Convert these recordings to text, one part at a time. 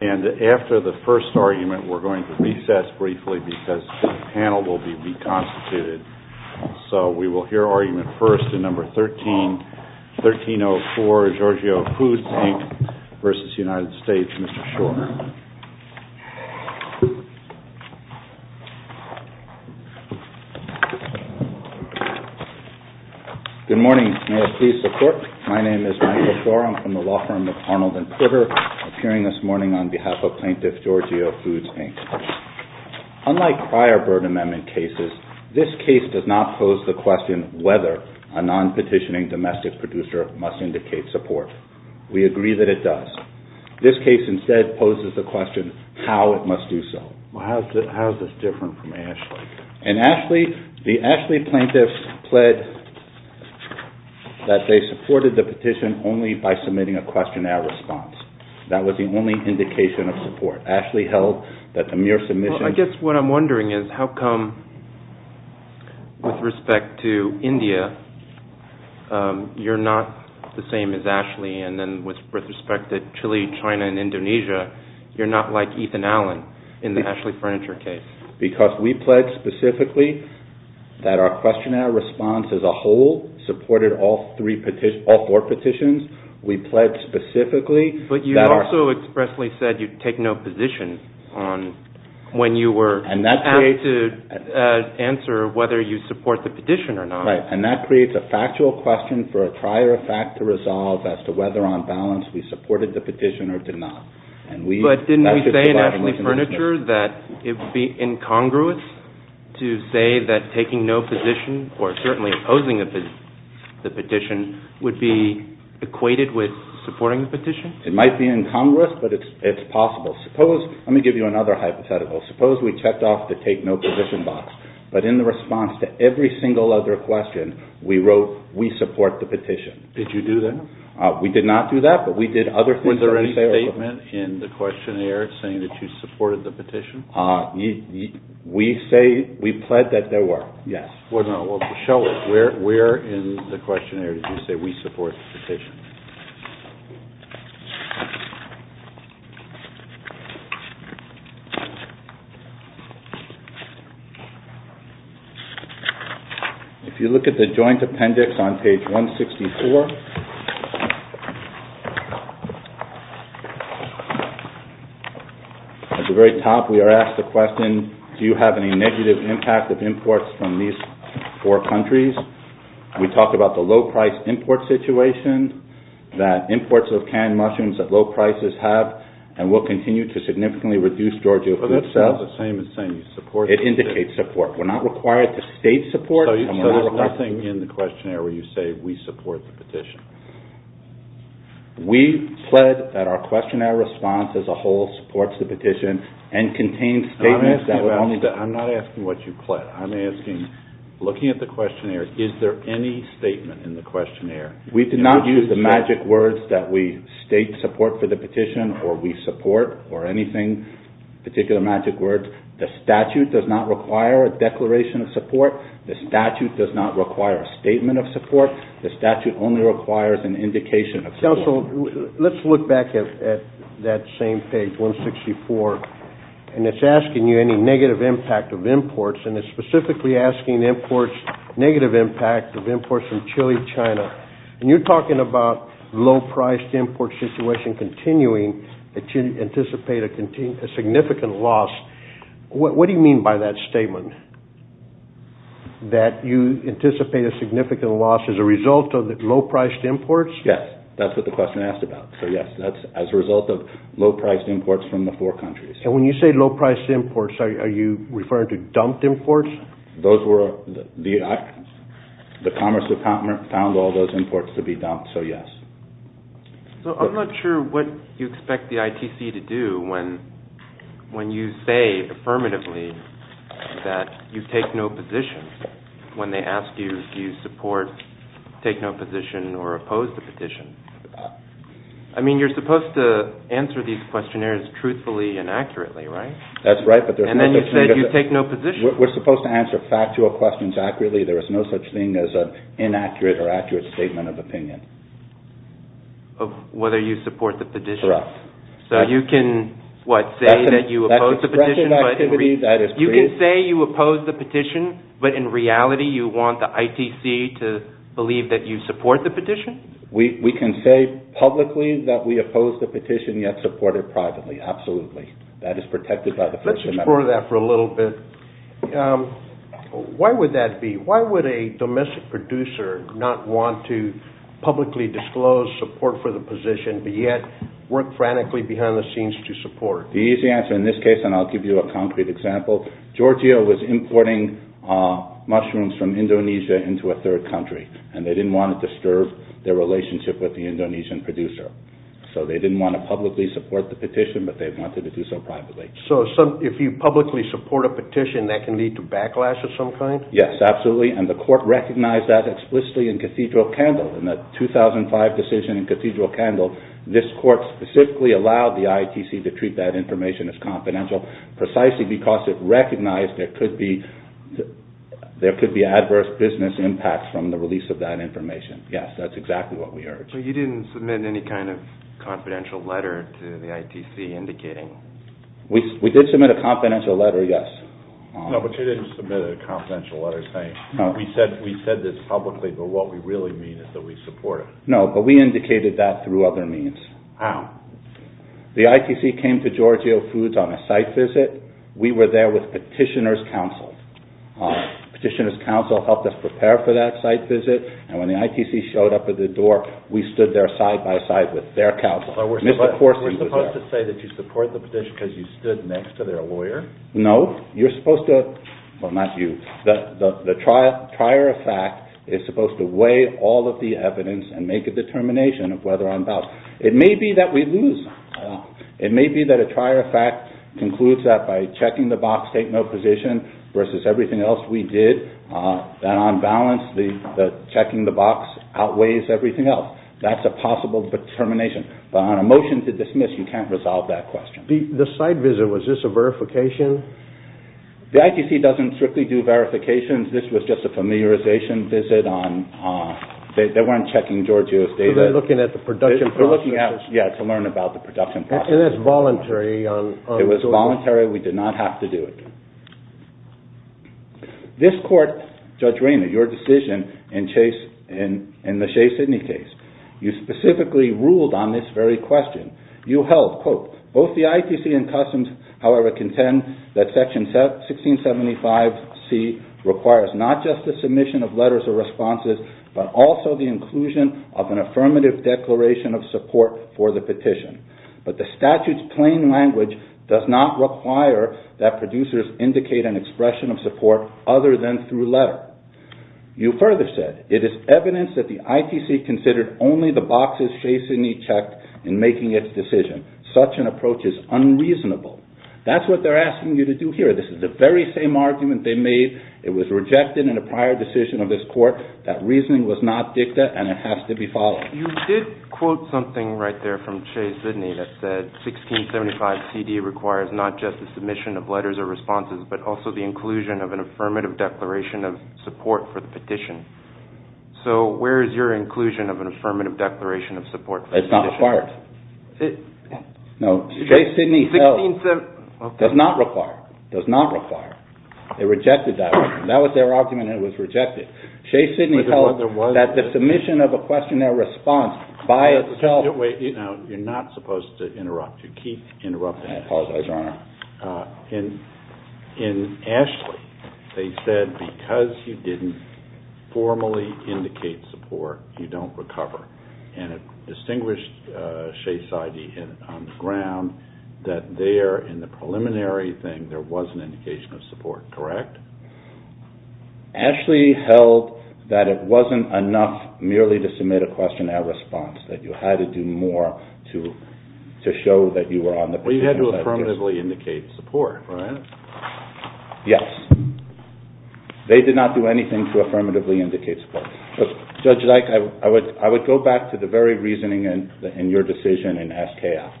Mr. Schor. Good morning. May I ask for your support? My name is Michael Schor. I'm from the law firm of Arnold and Pritter, appearing this morning on behalf of Plaintiff Giorgio Foods, Inc. Unlike prior Byrd Amendment cases, this case does not pose the question whether a non-petitioning domestic producer must indicate support. We agree that it does. This case instead poses the question how it must do so. How is this different from Ashley? The That was the only indication of support. Ashley held that the mere submission... Well, I guess what I'm wondering is how come, with respect to India, you're not the same as Ashley, and then with respect to Chile, China, and Indonesia, you're not like Ethan Allen in the Ashley Furniture case? Because we pledged specifically that our questionnaire response as a whole supported all four petitions. We pledged specifically... But you also expressly said you'd take no position on when you were asked to answer whether you support the petition or not. Right. And that creates a factual question for a prior fact to resolve as to whether on balance we supported the petition or did not. But didn't we say in Ashley Furniture that it would be equated with supporting the petition? It might be in Congress, but it's possible. Let me give you another hypothetical. Suppose we checked off the take no position box, but in the response to every single other question, we wrote we support the petition. Did you do that? We did not do that, but we did other things... Were there any statements in the questionnaire saying that you supported the petition? We pled that there were, yes. Where in the questionnaire did you say we support the petition? If you look at the joint appendix on page 164, at the very top we are asked the question, do you have any negative impact of imports from these four countries? We talk about the low price import situation, that imports of canned mushrooms at low prices have and will continue to significantly reduce Georgia food sales. But that's not the same as saying you support the petition. It indicates support. We're not required to state support. So there's nothing in the questionnaire where you say we support the petition? We pled that our I'm not asking what you pled. I'm asking, looking at the questionnaire, is there any statement in the questionnaire? We did not use the magic words that we state support for the petition or we support or anything, particular magic words. The statute does not require a declaration of support. The statute does not require a statement of support. The statute only requires an indication of support. Counsel, let's look back at that same page, page 164, and it's asking you any negative impact of imports and it's specifically asking imports, negative impact of imports from Chile, China. And you're talking about low priced import situation continuing to anticipate a significant loss. What do you mean by that statement? That you anticipate a significant loss as a result of low priced imports? Yes, that's what the question asked about. So, yes, that's as a result of low priced imports from the four countries. And when you say low priced imports, are you referring to dumped imports? The Commerce Department found all those imports to be dumped, so yes. So I'm not sure what you expect the ITC to do when you say affirmatively that you take no positions when they ask you, do you support, take no position, or oppose the petition? I mean, you're supposed to answer these questionnaires truthfully and accurately, right? That's right, but there's no such thing as a... And then you said you take no positions. We're supposed to answer factual questions accurately. There is no such thing as an inaccurate or accurate statement of opinion. Of whether you support the petition. Correct. So you can, what, say that you oppose the petition, but... That's expression of activity, that is... You can say you oppose the petition, but in reality you want the ITC to believe that you support the petition? We can say publicly that we oppose the petition, yet support it privately, absolutely. That is protected by the First Amendment. Let's explore that for a little bit. Why would that be? Why would a domestic producer not want to publicly disclose support for the petition, but yet work frantically behind the scenes to support? The easy answer in this case, and I'll give you a concrete example, Georgia was importing mushrooms from Indonesia into a third country, and they didn't want to disturb their relationship with the Indonesian producer. So they didn't want to publicly support the petition, but they wanted to do so privately. So if you publicly support a petition, that can lead to backlash of some kind? Yes, absolutely, and the court recognized that explicitly in Cathedral Candle. In the 2005 decision in Cathedral Candle, this court specifically allowed the ITC to treat that information as confidential, precisely because it recognized there could be adverse business impacts from the release of that information. Yes, that's exactly what we heard. But you didn't submit any kind of confidential letter to the ITC indicating... We did submit a confidential letter, yes. No, but you didn't submit a confidential letter saying, We said this publicly, but what we really mean is that we support it. No, but we indicated that through other means. How? The ITC came to Giorgio Foods on a site visit. We were there with petitioner's counsel. Petitioner's counsel helped us prepare for that site visit, and when the ITC showed up at the door, we stood there side by side with their counsel. We're supposed to say that you support the petition because you stood next to their lawyer? No, you're supposed to... Well, not you. The trier of fact is supposed to weigh all of the evidence and make a determination of whether or not... It may be that we lose. It may be that a trier of fact concludes that by checking the box, take no position, versus everything else we did, that on balance, the checking the box outweighs everything else. That's a possible determination, but on a motion to dismiss, you can't resolve that question. The site visit, was this a verification? The ITC doesn't strictly do verifications. This was just a familiarization visit. They weren't checking Giorgio's data. They're looking at the production process. Yeah, to learn about the production process. And that's voluntary? It was voluntary. We did not have to do it. This court, Judge Rayner, your decision in the Shea-Sydney case, you specifically ruled on this very question. You held, quote, both the ITC and Customs, however, contend that Section 1675C requires not just the submission of letters or responses, but also the inclusion of an affirmative declaration of support for the petition. But the statute's plain language does not require that producers indicate an expression of support other than through letter. You further said, it is evidence that the ITC considered only the boxes Shea-Sydney checked in making its decision. Such an approach is unreasonable. That's what they're asking you to do here. This is the very same argument they made. It was rejected in a prior decision of this court. That reasoning was not dicta, and it has to be followed. You did quote something right there from Shea-Sydney that said, Section 1675C requires not just the submission of letters or responses, but also the inclusion of an affirmative declaration of support for the petition. So where is your inclusion of an affirmative declaration of support for the petition? It's not required. No, Shea-Sydney does not require, does not require. They rejected that one. That was their argument, and it was rejected. Shea-Sydney held that the submission of a questionnaire response by itself. You're not supposed to interrupt. You keep interrupting. I apologize, Your Honor. In Ashley, they said because you didn't formally indicate support, you don't recover. And it distinguished Shea-Sydney on the ground that there, in the preliminary thing, there was an indication of support, correct? Ashley held that it wasn't enough merely to submit a questionnaire response, that you had to do more to show that you were on the petition. Well, you had to affirmatively indicate support, right? Yes. They did not do anything to affirmatively indicate support. Judge Dyke, I would go back to the very reasoning in your decision in SKF.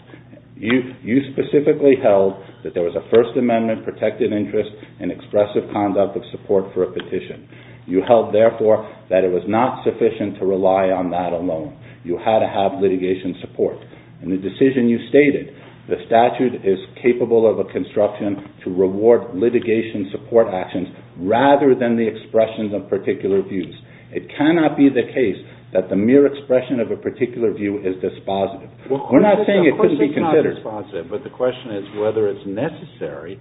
You specifically held that there was a First Amendment protected interest and expressive conduct of support for a petition. You held, therefore, that it was not sufficient to rely on that alone. You had to have litigation support. In the decision you stated, the statute is capable of a construction to reward litigation support actions rather than the expressions of particular views. It cannot be the case that the mere expression of a particular view is dispositive. We're not saying it couldn't be considered. Of course it's not dispositive, but the question is whether it's necessary,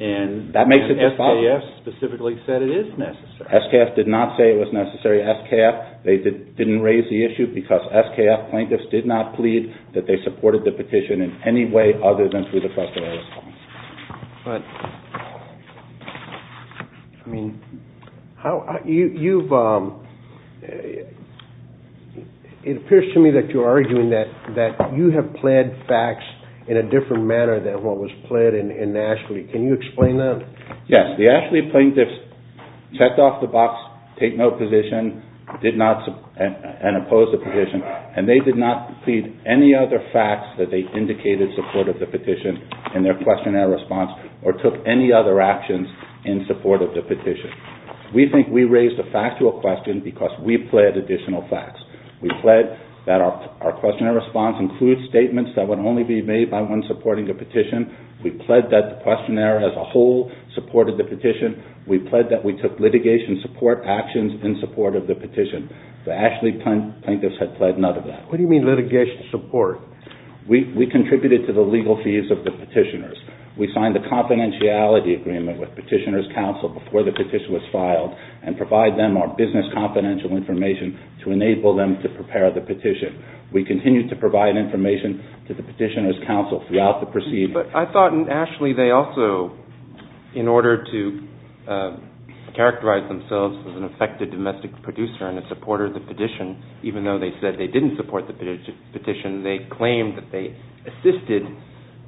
and SKF specifically said it is necessary. SKF did not say it was necessary. SKF, they didn't raise the issue because SKF plaintiffs did not plead that they supported the petition in any way other than through the questionnaire response. It appears to me that you're arguing that you have pled facts in a different manner than what was pled in Ashley. Can you explain that? Yes. The Ashley plaintiffs checked off the box, take no position, and opposed the petition, and they did not plead any other facts that they indicated supported the petition in their questionnaire response or took any other actions in support of the petition. We think we raised a factual question because we pled additional facts. We pled that our questionnaire response includes statements that would only be made by one supporting the petition. We pled that the questionnaire as a whole supported the petition. We pled that we took litigation support actions in support of the petition. The Ashley plaintiffs had pled none of that. What do you mean litigation support? We contributed to the legal fees of the petitioners. We signed a confidentiality agreement with Petitioner's Council before the petition was filed and provide them our business confidential information to enable them to prepare the petition. We continued to provide information to the Petitioner's Council throughout the proceedings. But I thought in Ashley they also, in order to characterize themselves as an effective domestic producer and a supporter of the petition, even though they said they didn't support the petition, they claimed that they assisted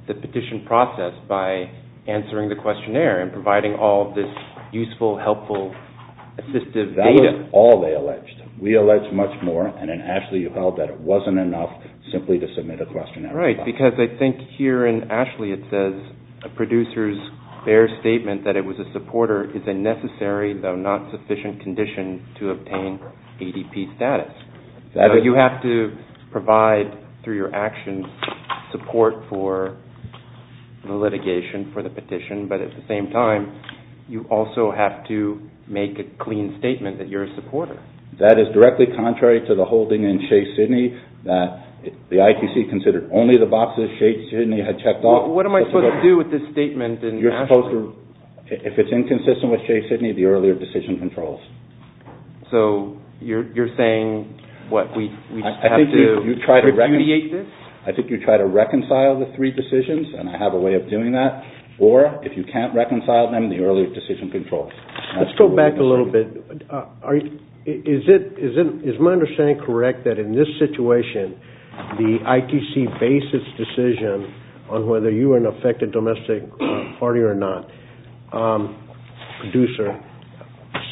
the petition process by answering the questionnaire and providing all of this useful, helpful, assistive data. That was all they alleged. We alleged much more, and in Ashley you held that it wasn't enough simply to submit a questionnaire response. Right, because I think here in Ashley it says, a producer's fair statement that it was a supporter is a necessary, though not sufficient, condition to obtain ADP status. So you have to provide, through your actions, support for the litigation for the petition, but at the same time you also have to make a clean statement that you're a supporter. That is directly contrary to the holding in Shea-Sydney that the ITC considered only the boxes Shea-Sydney had checked off. What am I supposed to do with this statement in Ashley? If it's inconsistent with Shea-Sydney, the earlier decision controls. So you're saying we have to repudiate this? I think you try to reconcile the three decisions, and I have a way of doing that, or if you can't reconcile them, the earlier decision controls. Let's go back a little bit. Is my understanding correct that in this situation, the ITC based its decision on whether you were an affected domestic party or not, producer,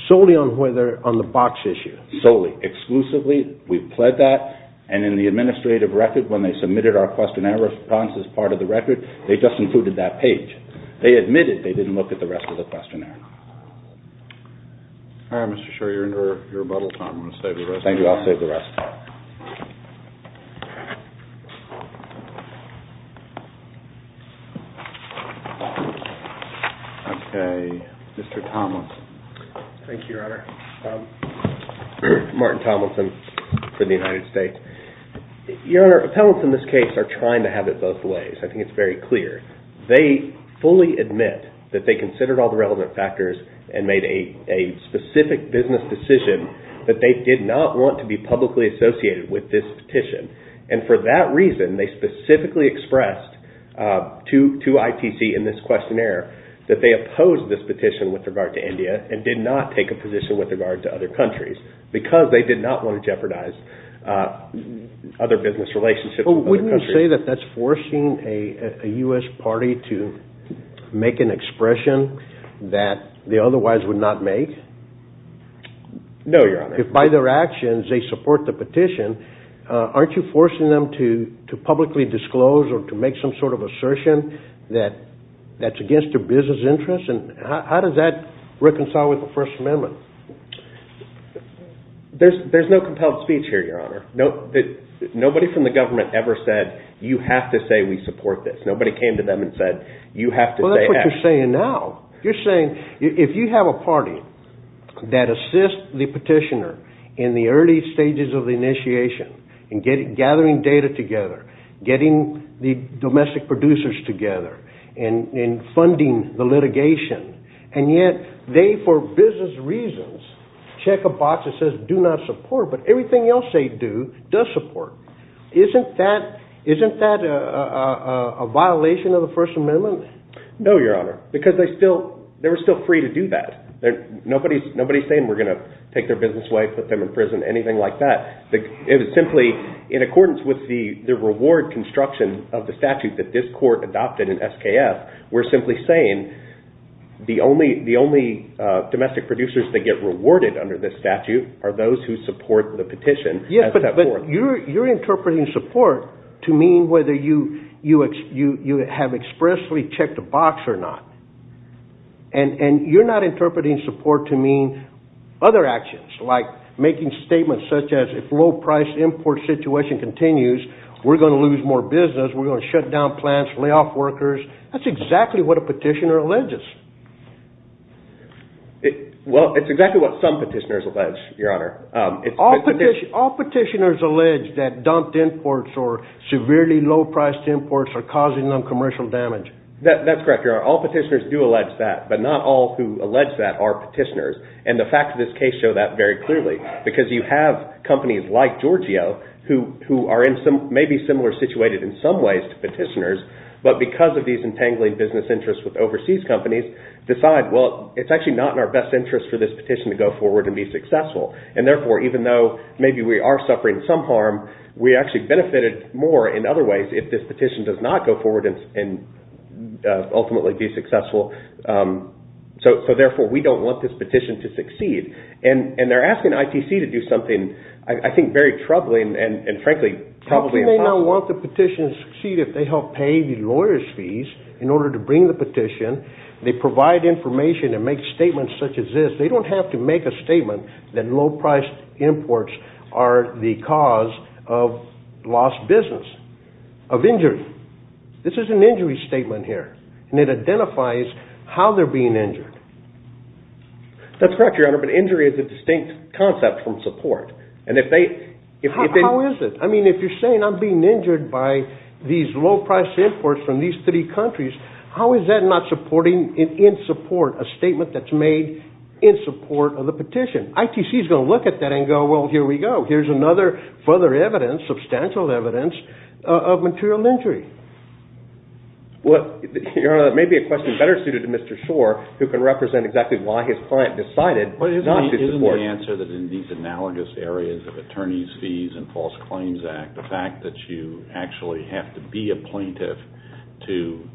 solely on the box issue? Solely. Exclusively. We pled that, and in the administrative record, when they submitted our questionnaire response as part of the record, they just included that page. They admitted they didn't look at the rest of the questionnaire. All right, Mr. Sherry, you're into your rebuttal time. Thank you. I'll save the rest. Mr. Tomlinson. Thank you, Your Honor. Martin Tomlinson for the United States. Your Honor, appellants in this case are trying to have it both ways. I think it's very clear. They fully admit that they considered all the relevant factors and made a specific business decision, but they did not want to be publicly associated with this petition. And for that reason, they specifically expressed to ITC in this questionnaire that they opposed this petition with regard to India and did not take a position with regard to other countries because they did not want to jeopardize other business relationships. Wouldn't you say that that's forcing a U.S. party to make an expression that they otherwise would not make? No, Your Honor. If by their actions they support the petition, aren't you forcing them to publicly disclose or to make some sort of assertion that's against their business interests? How does that reconcile with the First Amendment? There's no compelled speech here, Your Honor. Nobody from the government ever said, you have to say we support this. Nobody came to them and said, you have to say yes. That's what you're saying now. You're saying if you have a party that assists the petitioner in the early stages of the initiation in gathering data together, getting the domestic producers together, and funding the litigation, and yet they, for business reasons, check a box that says do not support, but everything else they do does support, isn't that a violation of the First Amendment? No, Your Honor, because they were still free to do that. Nobody's saying we're going to take their business away, put them in prison, anything like that. It was simply in accordance with the reward construction of the statute that this court adopted in SKF. We're simply saying the only domestic producers that get rewarded under this statute are those who support the petition. You're interpreting support to mean whether you have expressly checked a box or not. And you're not interpreting support to mean other actions, like making statements such as if low-price import situation continues, we're going to lose more business, we're going to shut down plants, lay off workers. That's exactly what a petitioner alleges. Well, it's exactly what some petitioners allege, Your Honor. All petitioners allege that dumped imports or severely low-priced imports are causing them commercial damage. That's correct, Your Honor. All petitioners do allege that, but not all who allege that are petitioners. And the facts of this case show that very clearly, because you have companies like Giorgio, who may be similar situated in some ways to petitioners, but because of these entangling business interests with overseas companies, decide, well, it's actually not in our best interest for this petition to go forward and be successful. And, therefore, even though maybe we are suffering some harm, we actually benefited more in other ways if this petition does not go forward and ultimately be successful. So, therefore, we don't want this petition to succeed. And they're asking ITC to do something, I think, very troubling, and, frankly, probably impossible. How can they not want the petition to succeed if they help pay the lawyers' fees in order to bring the petition? They provide information and make statements such as this. They don't have to make a statement that low-priced imports are the cause of lost business, of injury. This is an injury statement here, and it identifies how they're being injured. That's correct, Your Honor, but injury is a distinct concept from support. How is it? I mean, if you're saying I'm being injured by these low-priced imports from these three countries, how is that not supporting, in support, a statement that's made in support of the petition? ITC is going to look at that and go, well, here we go. Here's another further evidence, substantial evidence, of material injury. Your Honor, that may be a question better suited to Mr. Schor, who can represent exactly why his client decided not to support. Isn't the answer that in these analogous areas of attorneys' fees and False Claims Act, the fact that you actually have to be a plaintiff to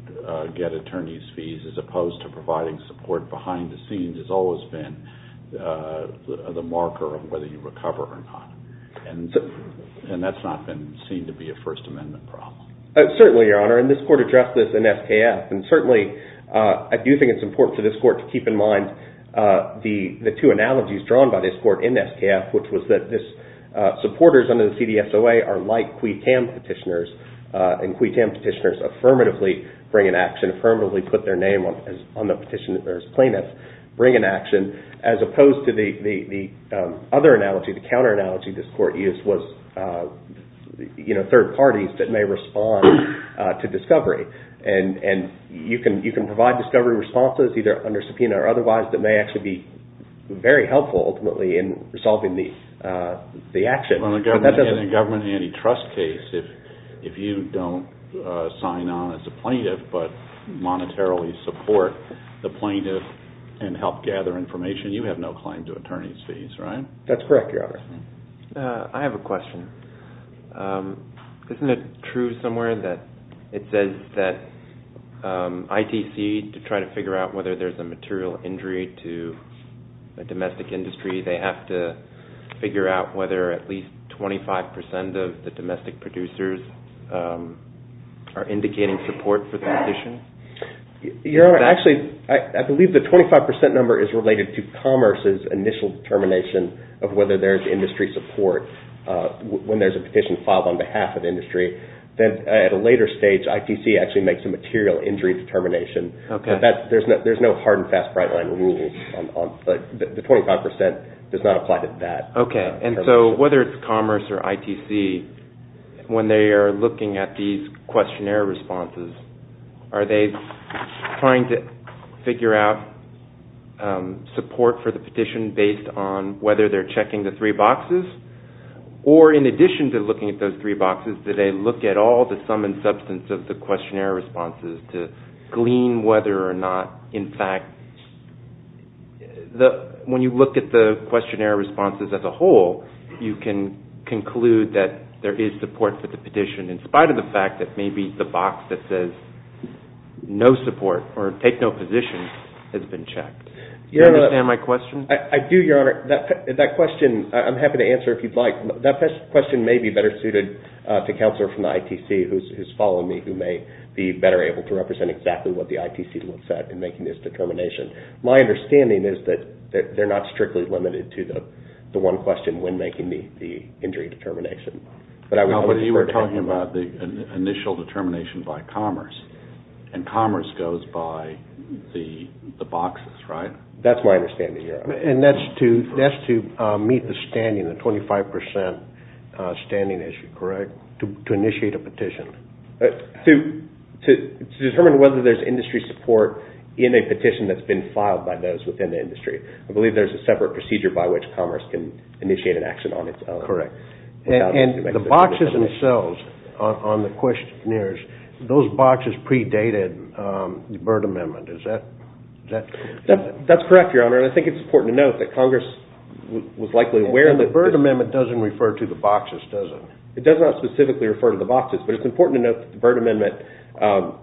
get attorneys' fees, as opposed to providing support behind the scenes, has always been the marker of whether you recover or not. And that's not been seen to be a First Amendment problem. Certainly, Your Honor, and this Court addressed this in SKF, and certainly I do think it's important for this Court to keep in mind the two analogies drawn by this Court in SKF, which was that supporters under the CDSOA are like quid tam petitioners, and quid tam petitioners affirmatively bring an action, affirmatively put their name on the petition as plaintiff, bring an action, as opposed to the other analogy, the counter analogy this Court used, was third parties that may respond to discovery. And you can provide discovery responses, either under subpoena or otherwise, that may actually be very helpful, ultimately, in resolving the action. In a government antitrust case, if you don't sign on as a plaintiff, but monetarily support the plaintiff and help gather information, you have no claim to attorneys' fees, right? That's correct, Your Honor. I have a question. Isn't it true somewhere that it says that ITC, to try to figure out whether there's a material injury to a domestic industry, they have to figure out whether at least 25 percent of the domestic producers are indicating support for the petition? Your Honor, actually, I believe the 25 percent number is related to commerce's initial determination of whether there's industry support. When there's a petition filed on behalf of industry, then at a later stage ITC actually makes a material injury determination. There's no hard and fast bright line rule. The 25 percent does not apply to that. Okay, and so whether it's commerce or ITC, when they are looking at these questionnaire responses, are they trying to figure out support for the petition based on whether they're checking the three boxes? Or in addition to looking at those three boxes, do they look at all the sum and substance of the questionnaire responses to glean whether or not, in fact, when you look at the questionnaire responses as a whole, you can conclude that there is support for the petition, in spite of the fact that maybe the box that says no support or take no positions has been checked. Do you understand my question? I do, Your Honor. That question, I'm happy to answer if you'd like. That question may be better suited to a counselor from the ITC who's following me who may be better able to represent exactly what the ITC looks at in making this determination. My understanding is that they're not strictly limited to the one question when making the injury determination. But you were talking about the initial determination by commerce, and commerce goes by the boxes, right? That's my understanding, Your Honor. And that's to meet the standing, the 25% standing issue, correct, to initiate a petition? To determine whether there's industry support in a petition that's been filed by those within the industry. I believe there's a separate procedure by which commerce can initiate an action on its own. That's correct. And the boxes themselves on the questionnaires, those boxes predated the Byrd Amendment. Is that correct? That's correct, Your Honor, and I think it's important to note that Congress was likely aware of this. The Byrd Amendment doesn't refer to the boxes, does it? It does not specifically refer to the boxes, but it's important to note that the Byrd Amendment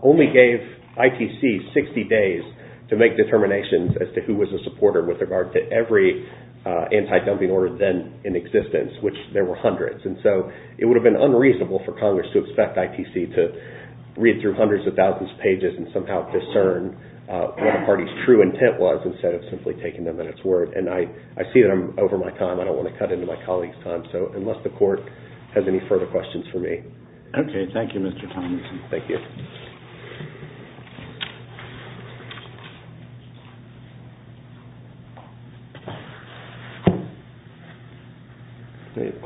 only gave ITC 60 days to make determinations as to who was a supporter with regard to every anti-dumping order then in existence, which there were hundreds. And so it would have been unreasonable for Congress to expect ITC to read through hundreds of thousands of pages and somehow discern what a party's true intent was instead of simply taking them at its word. And I see that I'm over my time. I don't want to cut into my colleagues' time, so unless the Court has any further questions for me. Okay, thank you, Mr. Tomlinson. Thank you.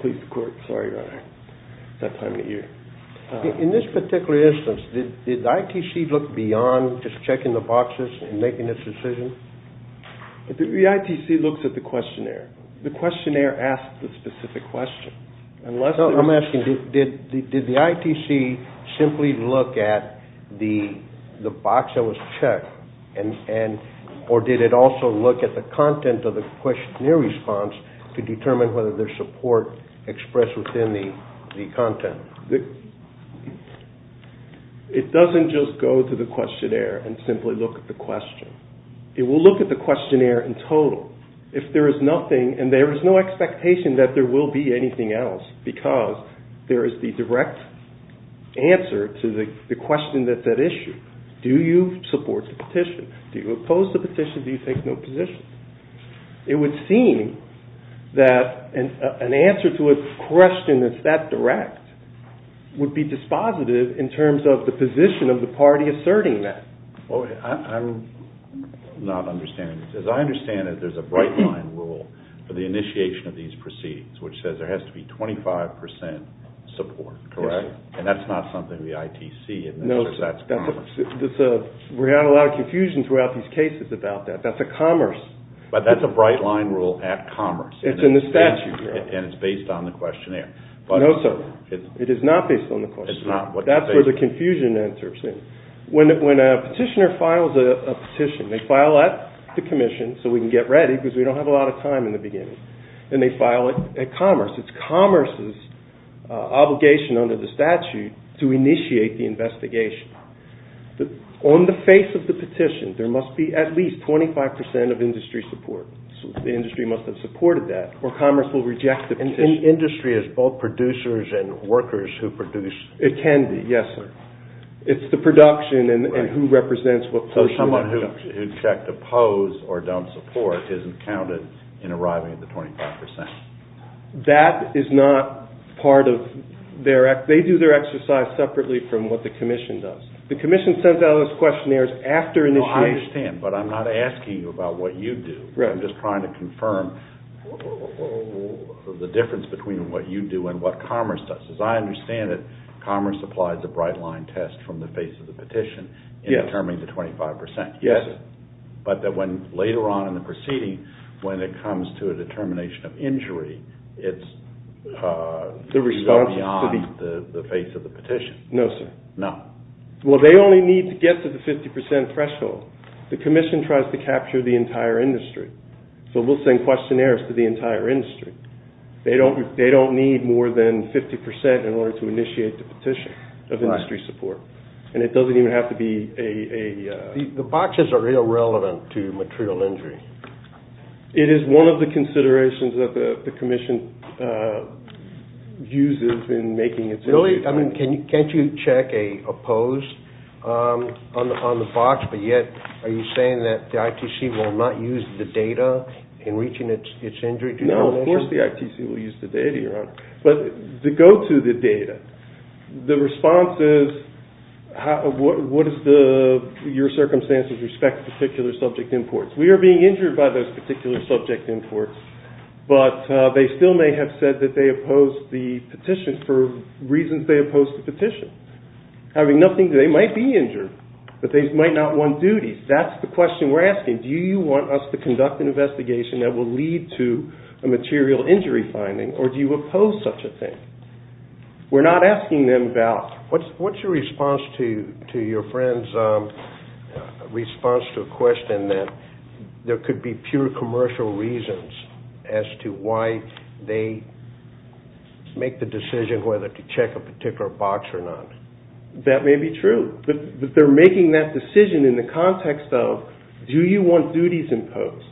Please, the Court. Sorry, Your Honor. It's that time of year. In this particular instance, did ITC look beyond just checking the boxes and making its decision? The ITC looks at the questionnaire. The questionnaire asks the specific question. I'm asking, did the ITC simply look at the box that was checked, or did it also look at the content of the questionnaire response to determine whether there's support expressed within the content? It doesn't just go to the questionnaire and simply look at the question. It will look at the questionnaire in total. If there is nothing, and there is no expectation that there will be anything else, because there is the direct answer to the question that's at issue. Do you support the petition? Do you oppose the petition? Do you take no position? It would seem that an answer to a question that's that direct would be dispositive in terms of the position of the party asserting that. I'm not understanding this. As I understand it, there's a bright line rule for the initiation of these proceedings, which says there has to be 25% support, correct? Yes, sir. And that's not something the ITC administers. No, sir. That's commerce. We had a lot of confusion throughout these cases about that. That's a commerce. But that's a bright line rule at commerce. It's in the statute. And it's based on the questionnaire. No, sir. It is not based on the questionnaire. It's not. That's where the confusion enters. When a petitioner files a petition, they file at the commission so we can get ready, because we don't have a lot of time in the beginning. And they file it at commerce. It's commerce's obligation under the statute to initiate the investigation. On the face of the petition, there must be at least 25% of industry support. So the industry must have supported that, or commerce will reject the petition. And industry is both producers and workers who produce. It can be, yes, sir. It's the production and who represents what portion. So someone who checked oppose or don't support isn't counted in arriving at the 25%. That is not part of their act. They do their exercise separately from what the commission does. The commission sends out its questionnaires after initiating. I understand, but I'm not asking you about what you do. I'm just trying to confirm the difference between what you do and what commerce does. I understand that commerce applies a bright line test from the face of the petition in determining the 25%. Yes, sir. But that when later on in the proceeding, when it comes to a determination of injury, it's beyond the face of the petition. No, sir. No. Well, they only need to get to the 50% threshold. The commission tries to capture the entire industry. So we'll send questionnaires to the entire industry. They don't need more than 50% in order to initiate the petition of industry support. And it doesn't even have to be a – The boxes are irrelevant to material injury. It is one of the considerations that the commission uses in making its – Really? I mean, can't you check a post on the box, but yet are you saying that the ITC will not use the data in reaching its injury determination? No, of course the ITC will use the data, Your Honor. But to go to the data, the response is what is the – your circumstances respect particular subject imports. We are being injured by those particular subject imports, but they still may have said that they oppose the petition for reasons they oppose the petition. Having nothing to – they might be injured, but they might not want duties. That's the question we're asking. Do you want us to conduct an investigation that will lead to a material injury finding, or do you oppose such a thing? We're not asking them about – What's your response to your friend's response to a question that there could be pure commercial reasons as to why they make the decision whether to check a particular box or not? That may be true. But they're making that decision in the context of do you want duties imposed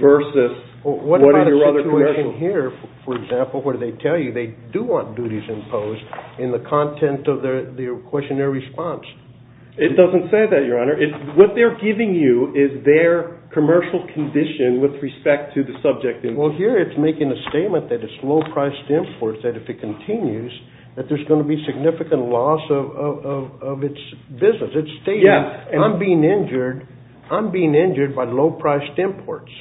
versus what are your other commercial – What about a situation here, for example, where they tell you they do want duties imposed in the content of their questionnaire response? It doesn't say that, Your Honor. What they're giving you is their commercial condition with respect to the subject import. Well, here it's making a statement that it's low-priced imports, that if it continues that there's going to be significant loss of its business. It's stating, I'm being injured by low-priced imports.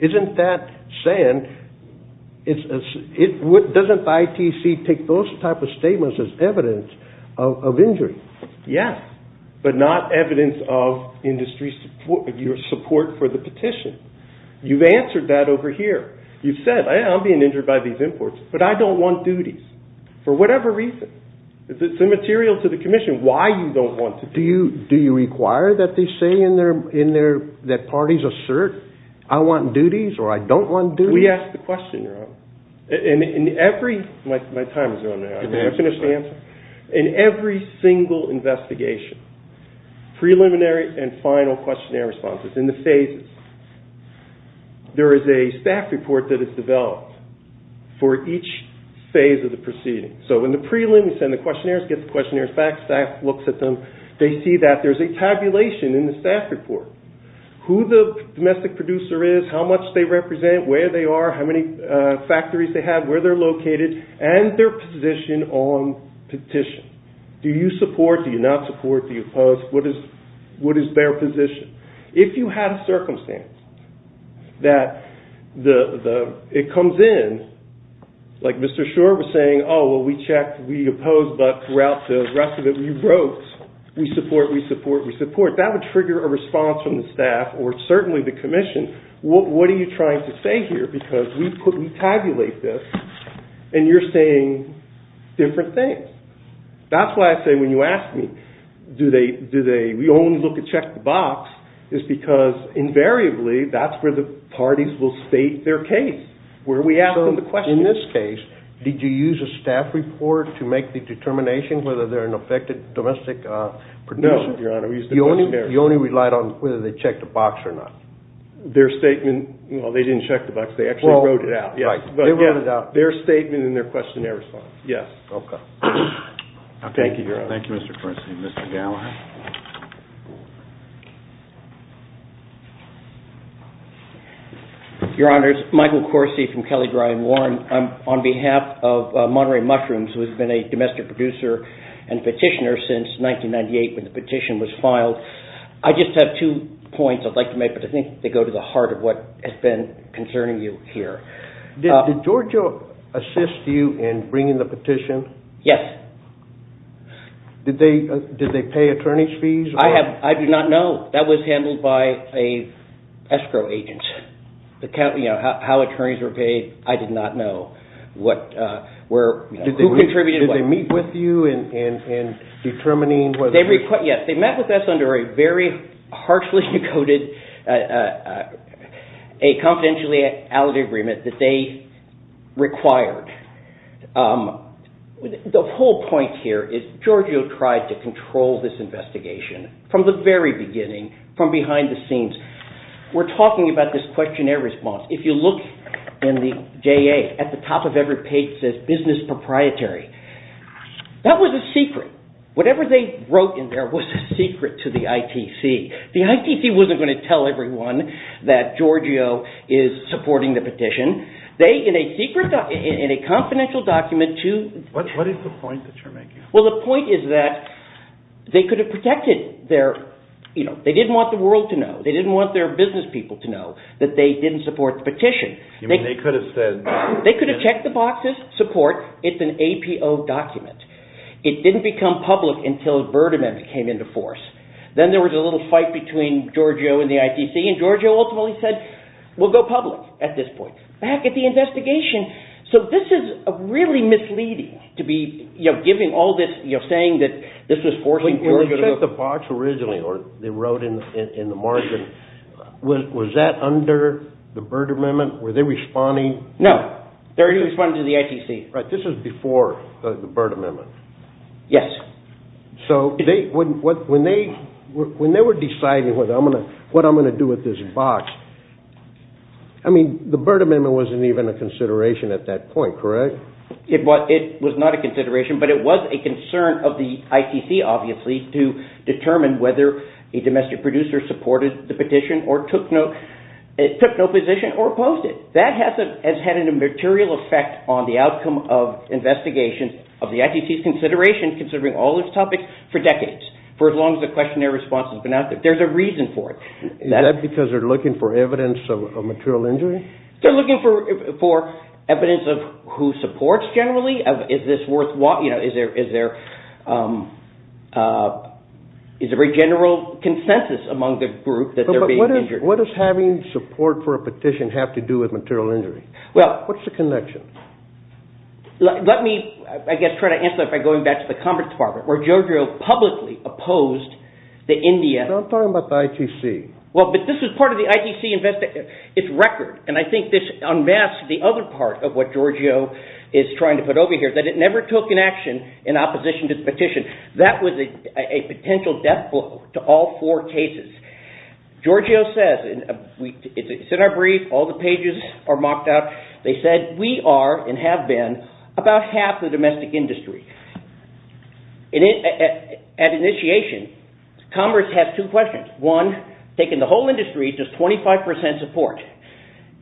Isn't that saying – doesn't ITC take those type of statements as evidence of injury? Yes, but not evidence of industry support for the petition. You've answered that over here. You've said, I'm being injured by these imports, but I don't want duties for whatever reason. It's immaterial to the commission why you don't want duties. Do you require that they say in their – that parties assert I want duties or I don't want duties? We ask the question, Your Honor. In every – my time is running out. I'm never going to finish the answer. In every single investigation, preliminary and final questionnaire responses, in the phases, there is a staff report that is developed for each phase of the proceeding. So in the prelim, we send the questionnaires, get the questionnaires back, staff looks at them. They see that there's a tabulation in the staff report. Who the domestic producer is, how much they represent, where they are, how many factories they have, where they're located, and their position on petition. Do you support, do you not support, do you oppose? What is their position? If you had a circumstance that the – it comes in, like Mr. Schor was saying, oh, well, we checked, we opposed, but throughout the rest of it, we wrote, we support, we support, we support. That would trigger a response from the staff or certainly the commission. What are you trying to say here? Because we tabulate this, and you're saying different things. That's why I say when you ask me, do they, do they, we only look at check the box, is because invariably that's where the parties will state their case, where we ask them the questions. So in this case, did you use a staff report to make the determination whether they're an affected domestic producer? No, Your Honor, we used the questionnaires. You only relied on whether they checked the box or not? Their statement, well, they didn't check the box, they actually wrote it out, yes. Right, they wrote it out. Their statement and their questionnaire response, yes. Okay. Thank you, Your Honor. Thank you, Mr. Corsi. Mr. Gallagher. Your Honor, it's Michael Corsi from Kelley Dry and Warm. On behalf of Monterey Mushrooms, who has been a domestic producer and petitioner since 1998 when the petition was filed, I just have two points I'd like to make, but I think they go to the heart of what has been concerning you here. Did Georgia assist you in bringing the petition? Yes. Did they pay attorney's fees? I do not know. That was handled by an escrow agent. How attorneys were paid, I did not know. Who contributed? Did they meet with you in determining? Yes, they met with us under a very harshly decoded confidentiality agreement that they required. The whole point here is Georgia tried to control this investigation from the very beginning, from behind the scenes. We're talking about this questionnaire response. If you look in the JA, at the top of every page it says business proprietary. That was a secret. Whatever they wrote in there was a secret to the ITC. The ITC wasn't going to tell everyone that Giorgio is supporting the petition. They, in a confidential document... What is the point that you're making? The point is that they could have protected their... They didn't want the world to know. They didn't want their business people to know that they didn't support the petition. You mean they could have said... They could have checked the boxes, support, it's an APO document. It didn't become public until the Byrd Amendment came into force. Then there was a little fight between Giorgio and the ITC, and Giorgio ultimately said, we'll go public at this point. Back at the investigation. So this is really misleading to be giving all this, saying that this was forcing Giorgio... When you checked the box originally, or they wrote in the margin, was that under the Byrd Amendment? Were they responding? No. They were responding to the ITC. Right, this was before the Byrd Amendment. Yes. So when they were deciding what I'm going to do with this box, I mean, the Byrd Amendment wasn't even a consideration at that point, correct? It was not a consideration, but it was a concern of the ITC, obviously, to determine whether a domestic producer supported the petition or took no position or opposed it. So that has had a material effect on the outcome of investigation of the ITC's consideration, considering all this topic, for decades. For as long as the questionnaire response has been out there. There's a reason for it. Is that because they're looking for evidence of material injury? They're looking for evidence of who supports, generally. Is there a very general consensus among the group that they're being injured? What does having support for a petition have to do with material injury? What's the connection? Let me, I guess, try to answer that by going back to the conference department, where Giorgio publicly opposed the Indian. I'm talking about the ITC. Well, but this was part of the ITC investigation. It's record, and I think this unmasks the other part of what Giorgio is trying to put over here, that it never took an action in opposition to the petition. That was a potential death blow to all four cases. Giorgio says, it's in our brief, all the pages are mocked up. They said, we are, and have been, about half the domestic industry. At initiation, Congress has two questions. One, taking the whole industry, does 25% support?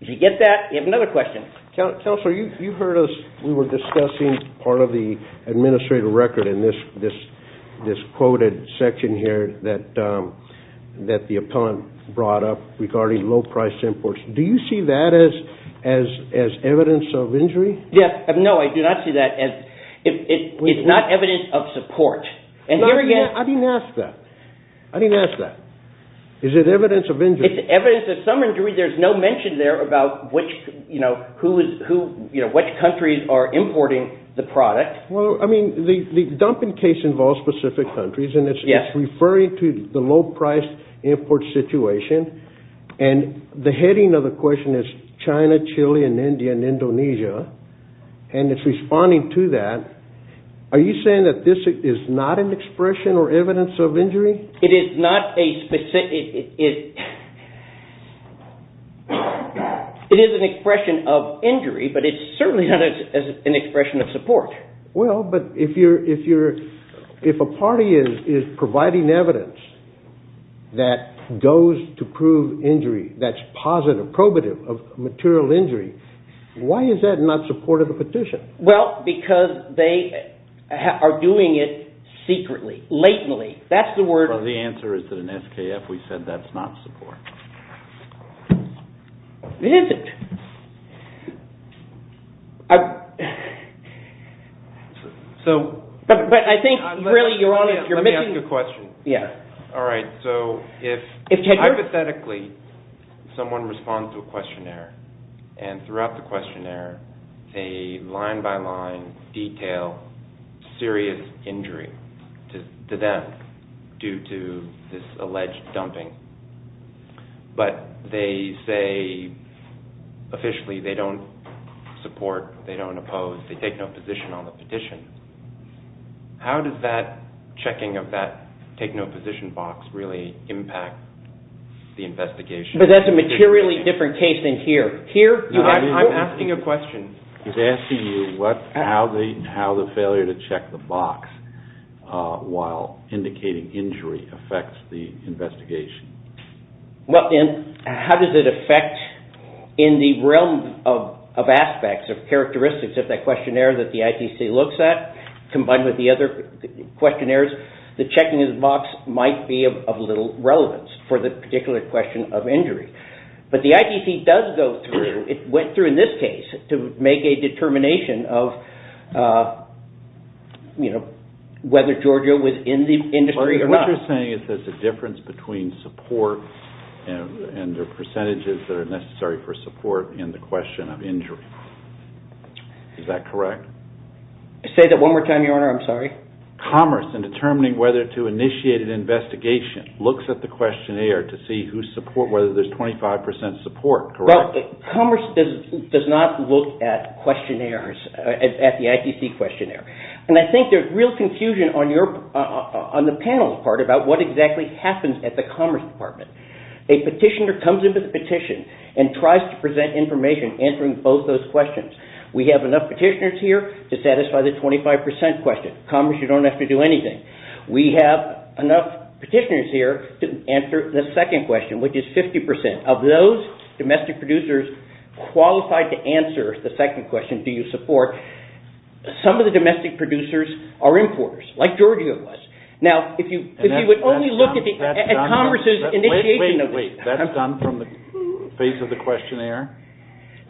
Did you get that? We have another question. Counselor, you heard us, we were discussing part of the administrative record in this quoted section here that the appellant brought up regarding low price imports. Do you see that as evidence of injury? No, I do not see that as, it's not evidence of support. I didn't ask that. I didn't ask that. Is it evidence of injury? It's evidence of some injury. There's no mention there about which countries are importing the product. Well, I mean, the dumping case involves specific countries, and it's referring to the low price import situation. And the heading of the question is China, Chile, and India, and Indonesia. And it's responding to that. Are you saying that this is not an expression or evidence of injury? It is an expression of injury, but it's certainly not an expression of support. Well, but if a party is providing evidence that goes to prove injury that's positive, probative of material injury, why is that not supportive of the petition? Well, because they are doing it secretly, latently. That's the word. The answer is that in SKF we said that's not support. It isn't. But I think really you're missing... Let me ask you a question. Yes. They line by line detail serious injury to them due to this alleged dumping. But they say officially they don't support, they don't oppose, they take no position on the petition. How does that checking of that take no position box really impact the investigation? But that's a materially different case than here. I'm asking a question. He's asking you how the failure to check the box while indicating injury affects the investigation. Well, and how does it affect in the realm of aspects of characteristics of that questionnaire that the ITC looks at combined with the other questionnaires, the checking of the box might be of little relevance for the particular question of injury. But the ITC does go through. It went through in this case to make a determination of whether Georgia was in the industry or not. What you're saying is there's a difference between support and the percentages that are necessary for support in the question of injury. Is that correct? Say that one more time, Your Honor. I'm sorry. Commerce, in determining whether to initiate an investigation, looks at the questionnaire to see whether there's 25% support, correct? Commerce does not look at questionnaires, at the ITC questionnaire. And I think there's real confusion on the panel's part about what exactly happens at the Commerce Department. A petitioner comes into the petition and tries to present information answering both those questions. We have enough petitioners here to satisfy the 25% question. Commerce, you don't have to do anything. We have enough petitioners here to answer the second question, which is 50%. Of those domestic producers qualified to answer the second question, do you support, some of the domestic producers are importers, like Georgia was. Now, if you would only look at Commerce's initiation of it. Wait, wait, wait. That's done from the face of the questionnaire?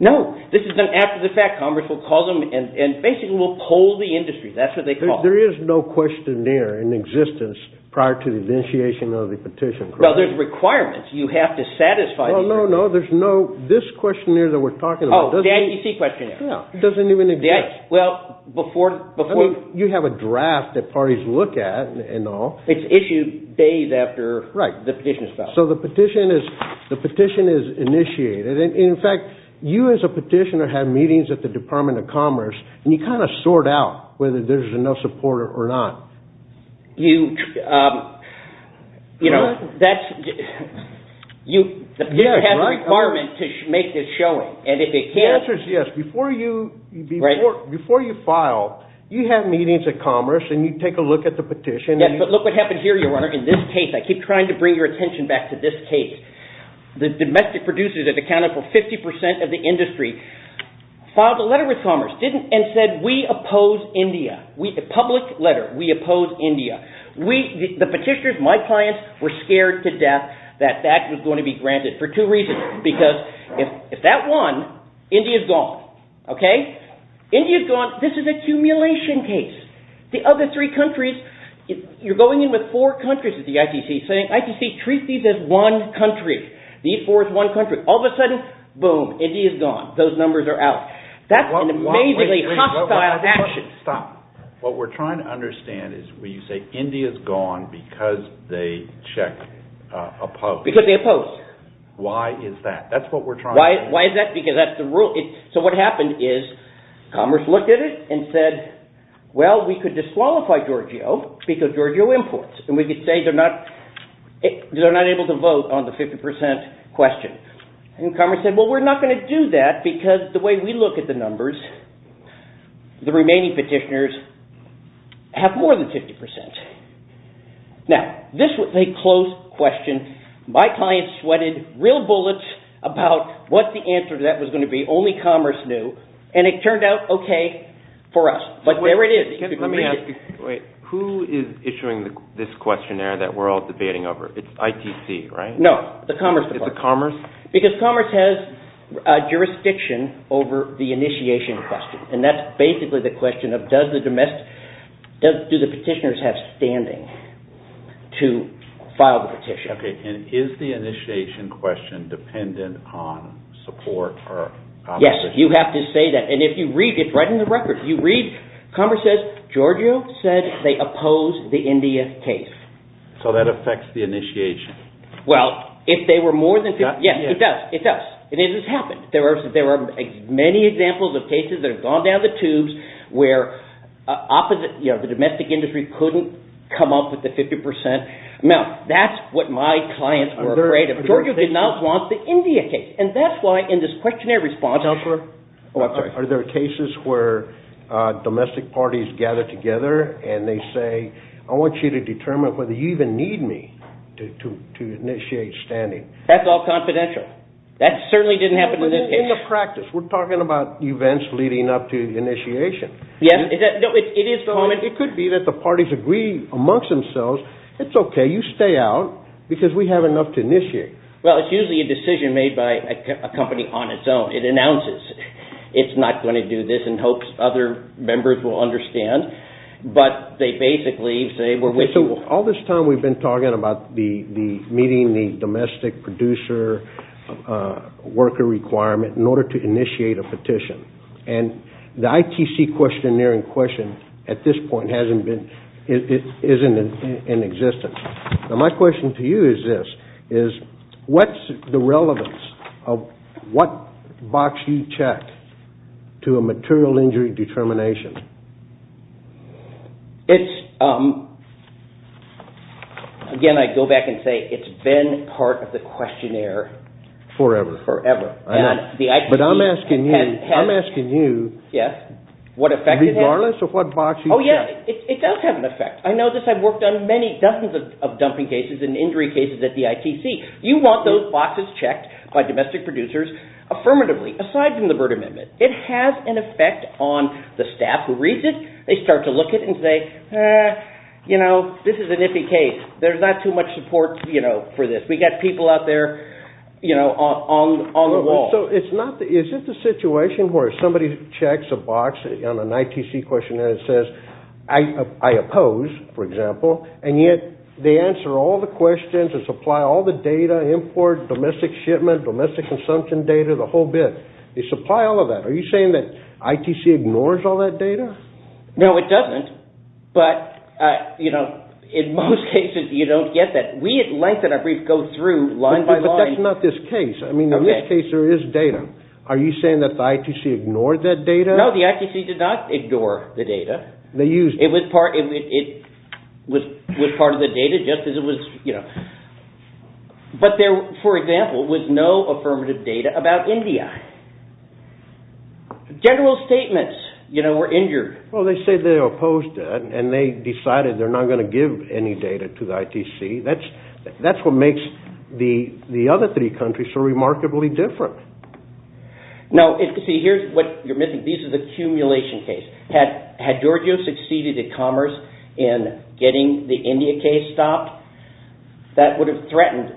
No. This is done after the fact. Commerce will call them and basically will poll the industry. That's what they call it. There is no questionnaire in existence prior to the initiation of the petition, correct? No, there's requirements. You have to satisfy the requirements. Oh, no, no. There's no, this questionnaire that we're talking about. Oh, the ITC questionnaire. Yeah. It doesn't even exist. Well, before. I mean, you have a draft that parties look at and all. It's issued days after the petition is filed. So the petition is initiated. In fact, you as a petitioner have meetings at the Department of Commerce, and you kind of sort out whether there's enough support or not. You know, that's, you have the requirement to make this showing. And if it can't. The answer is yes. Before you file, you have meetings at Commerce, and you take a look at the petition. Yes, but look what happened here, your Honor. In this case, I keep trying to bring your attention back to this case. The domestic producers have accounted for 50% of the industry, filed a letter with Commerce, and said we oppose India. A public letter. We oppose India. The petitioners, my clients, were scared to death that that was going to be granted for two reasons. Because if that won, India's gone. Okay? India's gone. This is an accumulation case. The other three countries, you're going in with four countries at the ITC saying ITC treats these as one country. These four as one country. All of a sudden, boom, India's gone. Those numbers are out. That's an amazingly hostile action. Stop. What we're trying to understand is when you say India's gone because they check, oppose. Because they oppose. Why is that? That's what we're trying to understand. Why is that? Because that's the rule. So what happened is Commerce looked at it and said, well, we could disqualify Giorgio because Giorgio imports. And we could say they're not able to vote on the 50% question. And Commerce said, well, we're not going to do that because the way we look at the numbers, the remaining petitioners have more than 50%. Now, this was a close question. My clients sweated real bullets about what the answer to that was going to be. Only Commerce knew. And it turned out okay for us. But there it is. Let me ask you. Wait. Who is issuing this questionnaire that we're all debating over? It's ITC, right? No, the Commerce department. It's the Commerce? Because Commerce has jurisdiction over the initiation question. And that's basically the question of do the petitioners have standing to file the petition? Okay. And is the initiation question dependent on support or opposition? Yes. You have to say that. And if you read – it's right in the record. If you read, Commerce says Giorgio said they oppose the India case. So that affects the initiation. Well, if they were more than – yes, it does. It does. And it has happened. There are many examples of cases that have gone down the tubes where the domestic industry couldn't come up with the 50%. Now, that's what my clients were afraid of. Giorgio did not want the India case. And that's why in this questionnaire response – Are there cases where domestic parties gather together and they say, I want you to determine whether you even need me to initiate standing? That's all confidential. That certainly didn't happen in this case. In the practice. We're talking about events leading up to the initiation. Yes. It is common. It could be that the parties agree amongst themselves, it's okay, you stay out because we have enough to initiate. Well, it's usually a decision made by a company on its own. It announces it's not going to do this in hopes other members will understand. But they basically say we're with you. All this time we've been talking about meeting the domestic producer worker requirement in order to initiate a petition. And the ITC questionnaire in question at this point isn't in existence. Now, my question to you is this. What's the relevance of what box you check to a material injury determination? Again, I go back and say it's been part of the questionnaire. Forever. Forever. But I'm asking you regardless of what box you check. Yes, it does have an effect. I know this. I've worked on many dozens of dumping cases and injury cases at the ITC. You want those boxes checked by domestic producers affirmatively, aside from the Burt Amendment. It has an effect on the staff who reads it. They start to look at it and say this is an iffy case. There's not too much support for this. We've got people out there on the wall. So is it the situation where somebody checks a box on an ITC questionnaire that says I oppose, for example, and yet they answer all the questions and supply all the data, import, domestic shipment, domestic consumption data, the whole bit. They supply all of that. Are you saying that ITC ignores all that data? No, it doesn't, but in most cases you don't get that. We at Lengthen, I believe, go through line by line. But that's not this case. In this case there is data. Are you saying that the ITC ignored that data? No, the ITC did not ignore the data. It was part of the data just as it was. But there, for example, was no affirmative data about India. General statements were injured. Well, they say they opposed it and they decided they're not going to give any data to the ITC. That's what makes the other three countries so remarkably different. No, see, here's what you're missing. These are the accumulation cases. Had Giorgio succeeded at commerce in getting the India case stopped, that would have threatened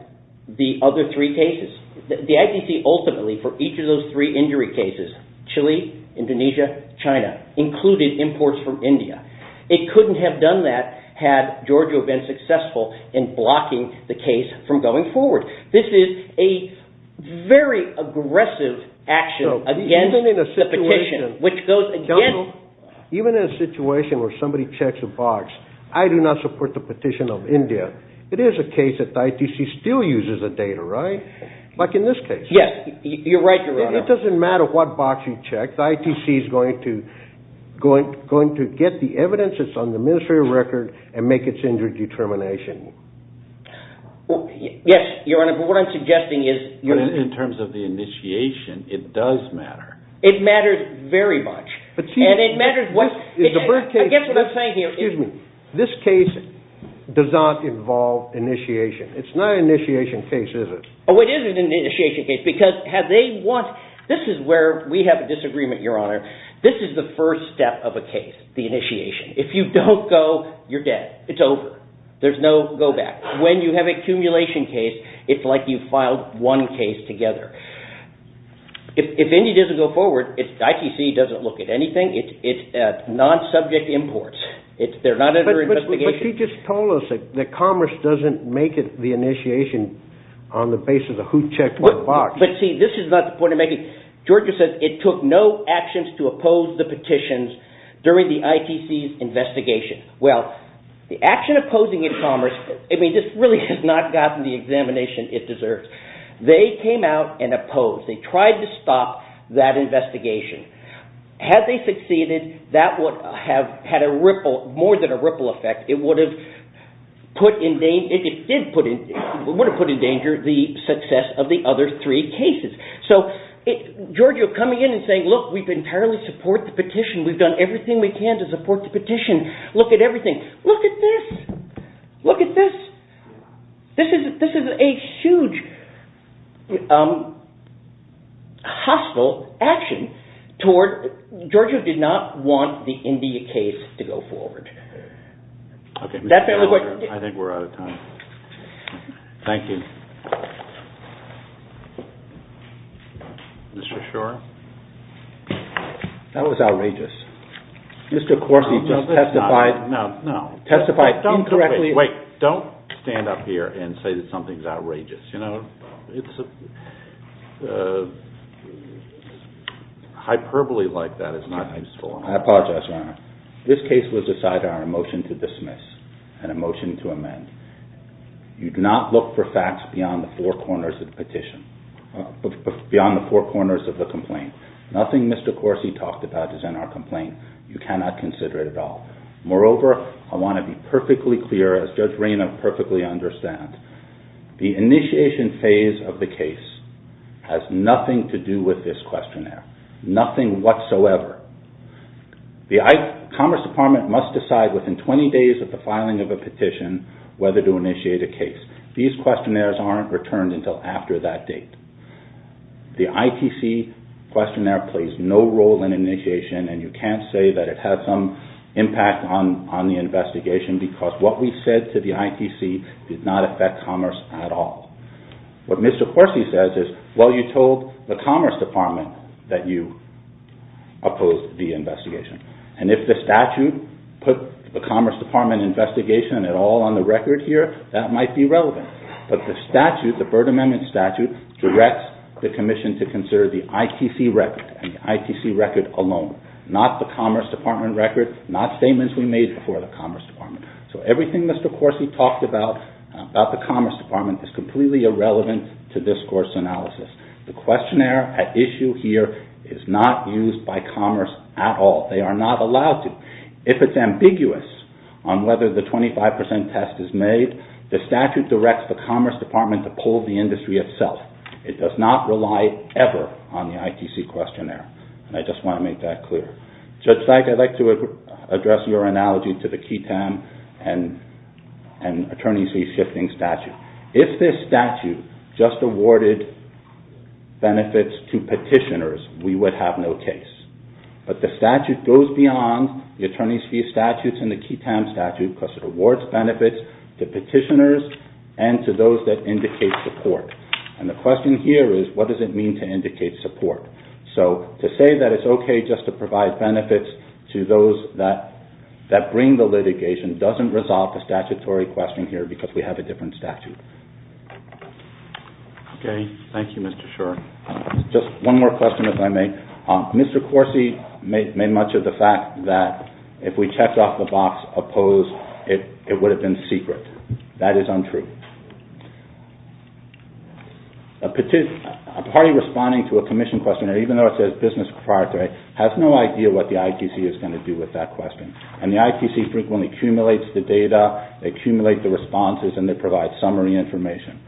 the other three cases. The ITC ultimately, for each of those three injury cases, Chile, Indonesia, China, included imports from India. It couldn't have done that had Giorgio been successful in blocking the case from going forward. This is a very aggressive action against the petition. Even in a situation where somebody checks a box, I do not support the petition of India. It is a case that the ITC still uses the data, right? Like in this case. Yes, you're right, Your Honor. It doesn't matter what box you check. The ITC is going to get the evidence that's on the administrative record and make its injury determination. Yes, Your Honor, but what I'm suggesting is… In terms of the initiation, it does matter. It matters very much, and it matters what… Excuse me. This case does not involve initiation. It's not an initiation case, is it? Oh, it is an initiation case because have they want – this is where we have a disagreement, Your Honor. This is the first step of a case, the initiation. If you don't go, you're dead. It's over. There's no go back. When you have an accumulation case, it's like you've filed one case together. If India doesn't go forward, ITC doesn't look at anything. It's non-subject imports. They're not under investigation. But she just told us that Commerce doesn't make the initiation on the basis of who checked what box. But see, this is not the point I'm making. Georgia says it took no actions to oppose the petitions during the ITC's investigation. Well, the action of opposing in Commerce – I mean this really has not gotten the examination it deserves. They came out and opposed. They tried to stop that investigation. Had they succeeded, that would have had a ripple – more than a ripple effect. It would have put in danger the success of the other three cases. So Georgia coming in and saying, look, we entirely support the petition. We've done everything we can to support the petition. Look at everything. Look at this. Look at this. This is a huge, hostile action. Georgia did not want the India case to go forward. Okay. I think we're out of time. Thank you. Mr. Shore? That was outrageous. Mr. Corsi just testified – No, no. Testified incorrectly – Wait. Don't stand up here and say that something's outrageous. You know, it's a – hyperbole like that is not useful. I apologize, Your Honor. This case was decided on a motion to dismiss and a motion to amend. You do not look for facts beyond the four corners of the petition – beyond the four corners of the complaint. Nothing Mr. Corsi talked about is in our complaint. You cannot consider it at all. Moreover, I want to be perfectly clear, as Judge Rayna perfectly understands, the initiation phase of the case has nothing to do with this questionnaire. Nothing whatsoever. The Commerce Department must decide within 20 days of the filing of a petition whether to initiate a case. These questionnaires aren't returned until after that date. The ITC questionnaire plays no role in initiation, and you can't say that it had some impact on the investigation because what we said to the ITC did not affect Commerce at all. What Mr. Corsi says is, well, you told the Commerce Department that you opposed the investigation. And if the statute put the Commerce Department investigation at all on the record here, that might be relevant. But the statute, the Byrd Amendment statute, directs the Commission to consider the ITC record, and the ITC record alone, not the Commerce Department record, not statements we made before the Commerce Department. So everything Mr. Corsi talked about, about the Commerce Department, is completely irrelevant to this course analysis. The questionnaire at issue here is not used by Commerce at all. They are not allowed to. If it's ambiguous on whether the 25% test is made, the statute directs the Commerce Department to poll the industry itself. It does not rely ever on the ITC questionnaire. And I just want to make that clear. Judge Sykes, I'd like to address your analogy to the QI-TAM and attorneys reshifting statute. If this statute just awarded benefits to petitioners, we would have no case. But the statute goes beyond the attorney's fee statutes and the QI-TAM statute, because it awards benefits to petitioners and to those that indicate support. And the question here is, what does it mean to indicate support? So to say that it's okay just to provide benefits to those that bring the litigation doesn't resolve the statutory question here, because we have a different statute. Okay. Thank you, Mr. Shor. Just one more question, if I may. Mr. Corsi made much of the fact that if we checked off the box opposed, it would have been secret. That is untrue. A party responding to a commission questionnaire, even though it says business proprietary, has no idea what the ITC is going to do with that question. And the ITC frequently accumulates the data, they accumulate the responses, and they provide summary information.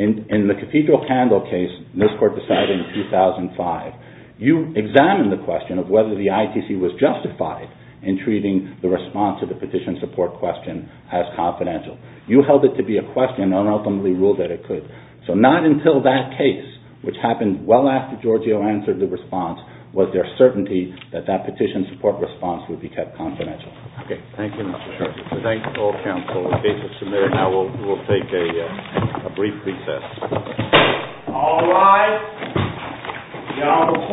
In the Cathedral Candle case, this court decided in 2005, you examined the question of whether the ITC was justified in treating the response to the petition support question as confidential. You held it to be a question and ultimately ruled that it could. So not until that case, which happened well after Giorgio answered the response, was there certainty that that petition support response would be kept confidential. Okay. Thank you, Mr. Shor. Thank you to all counsel. The case is submitted. Now we'll take a brief recess. All rise. Now the court will take a short recess.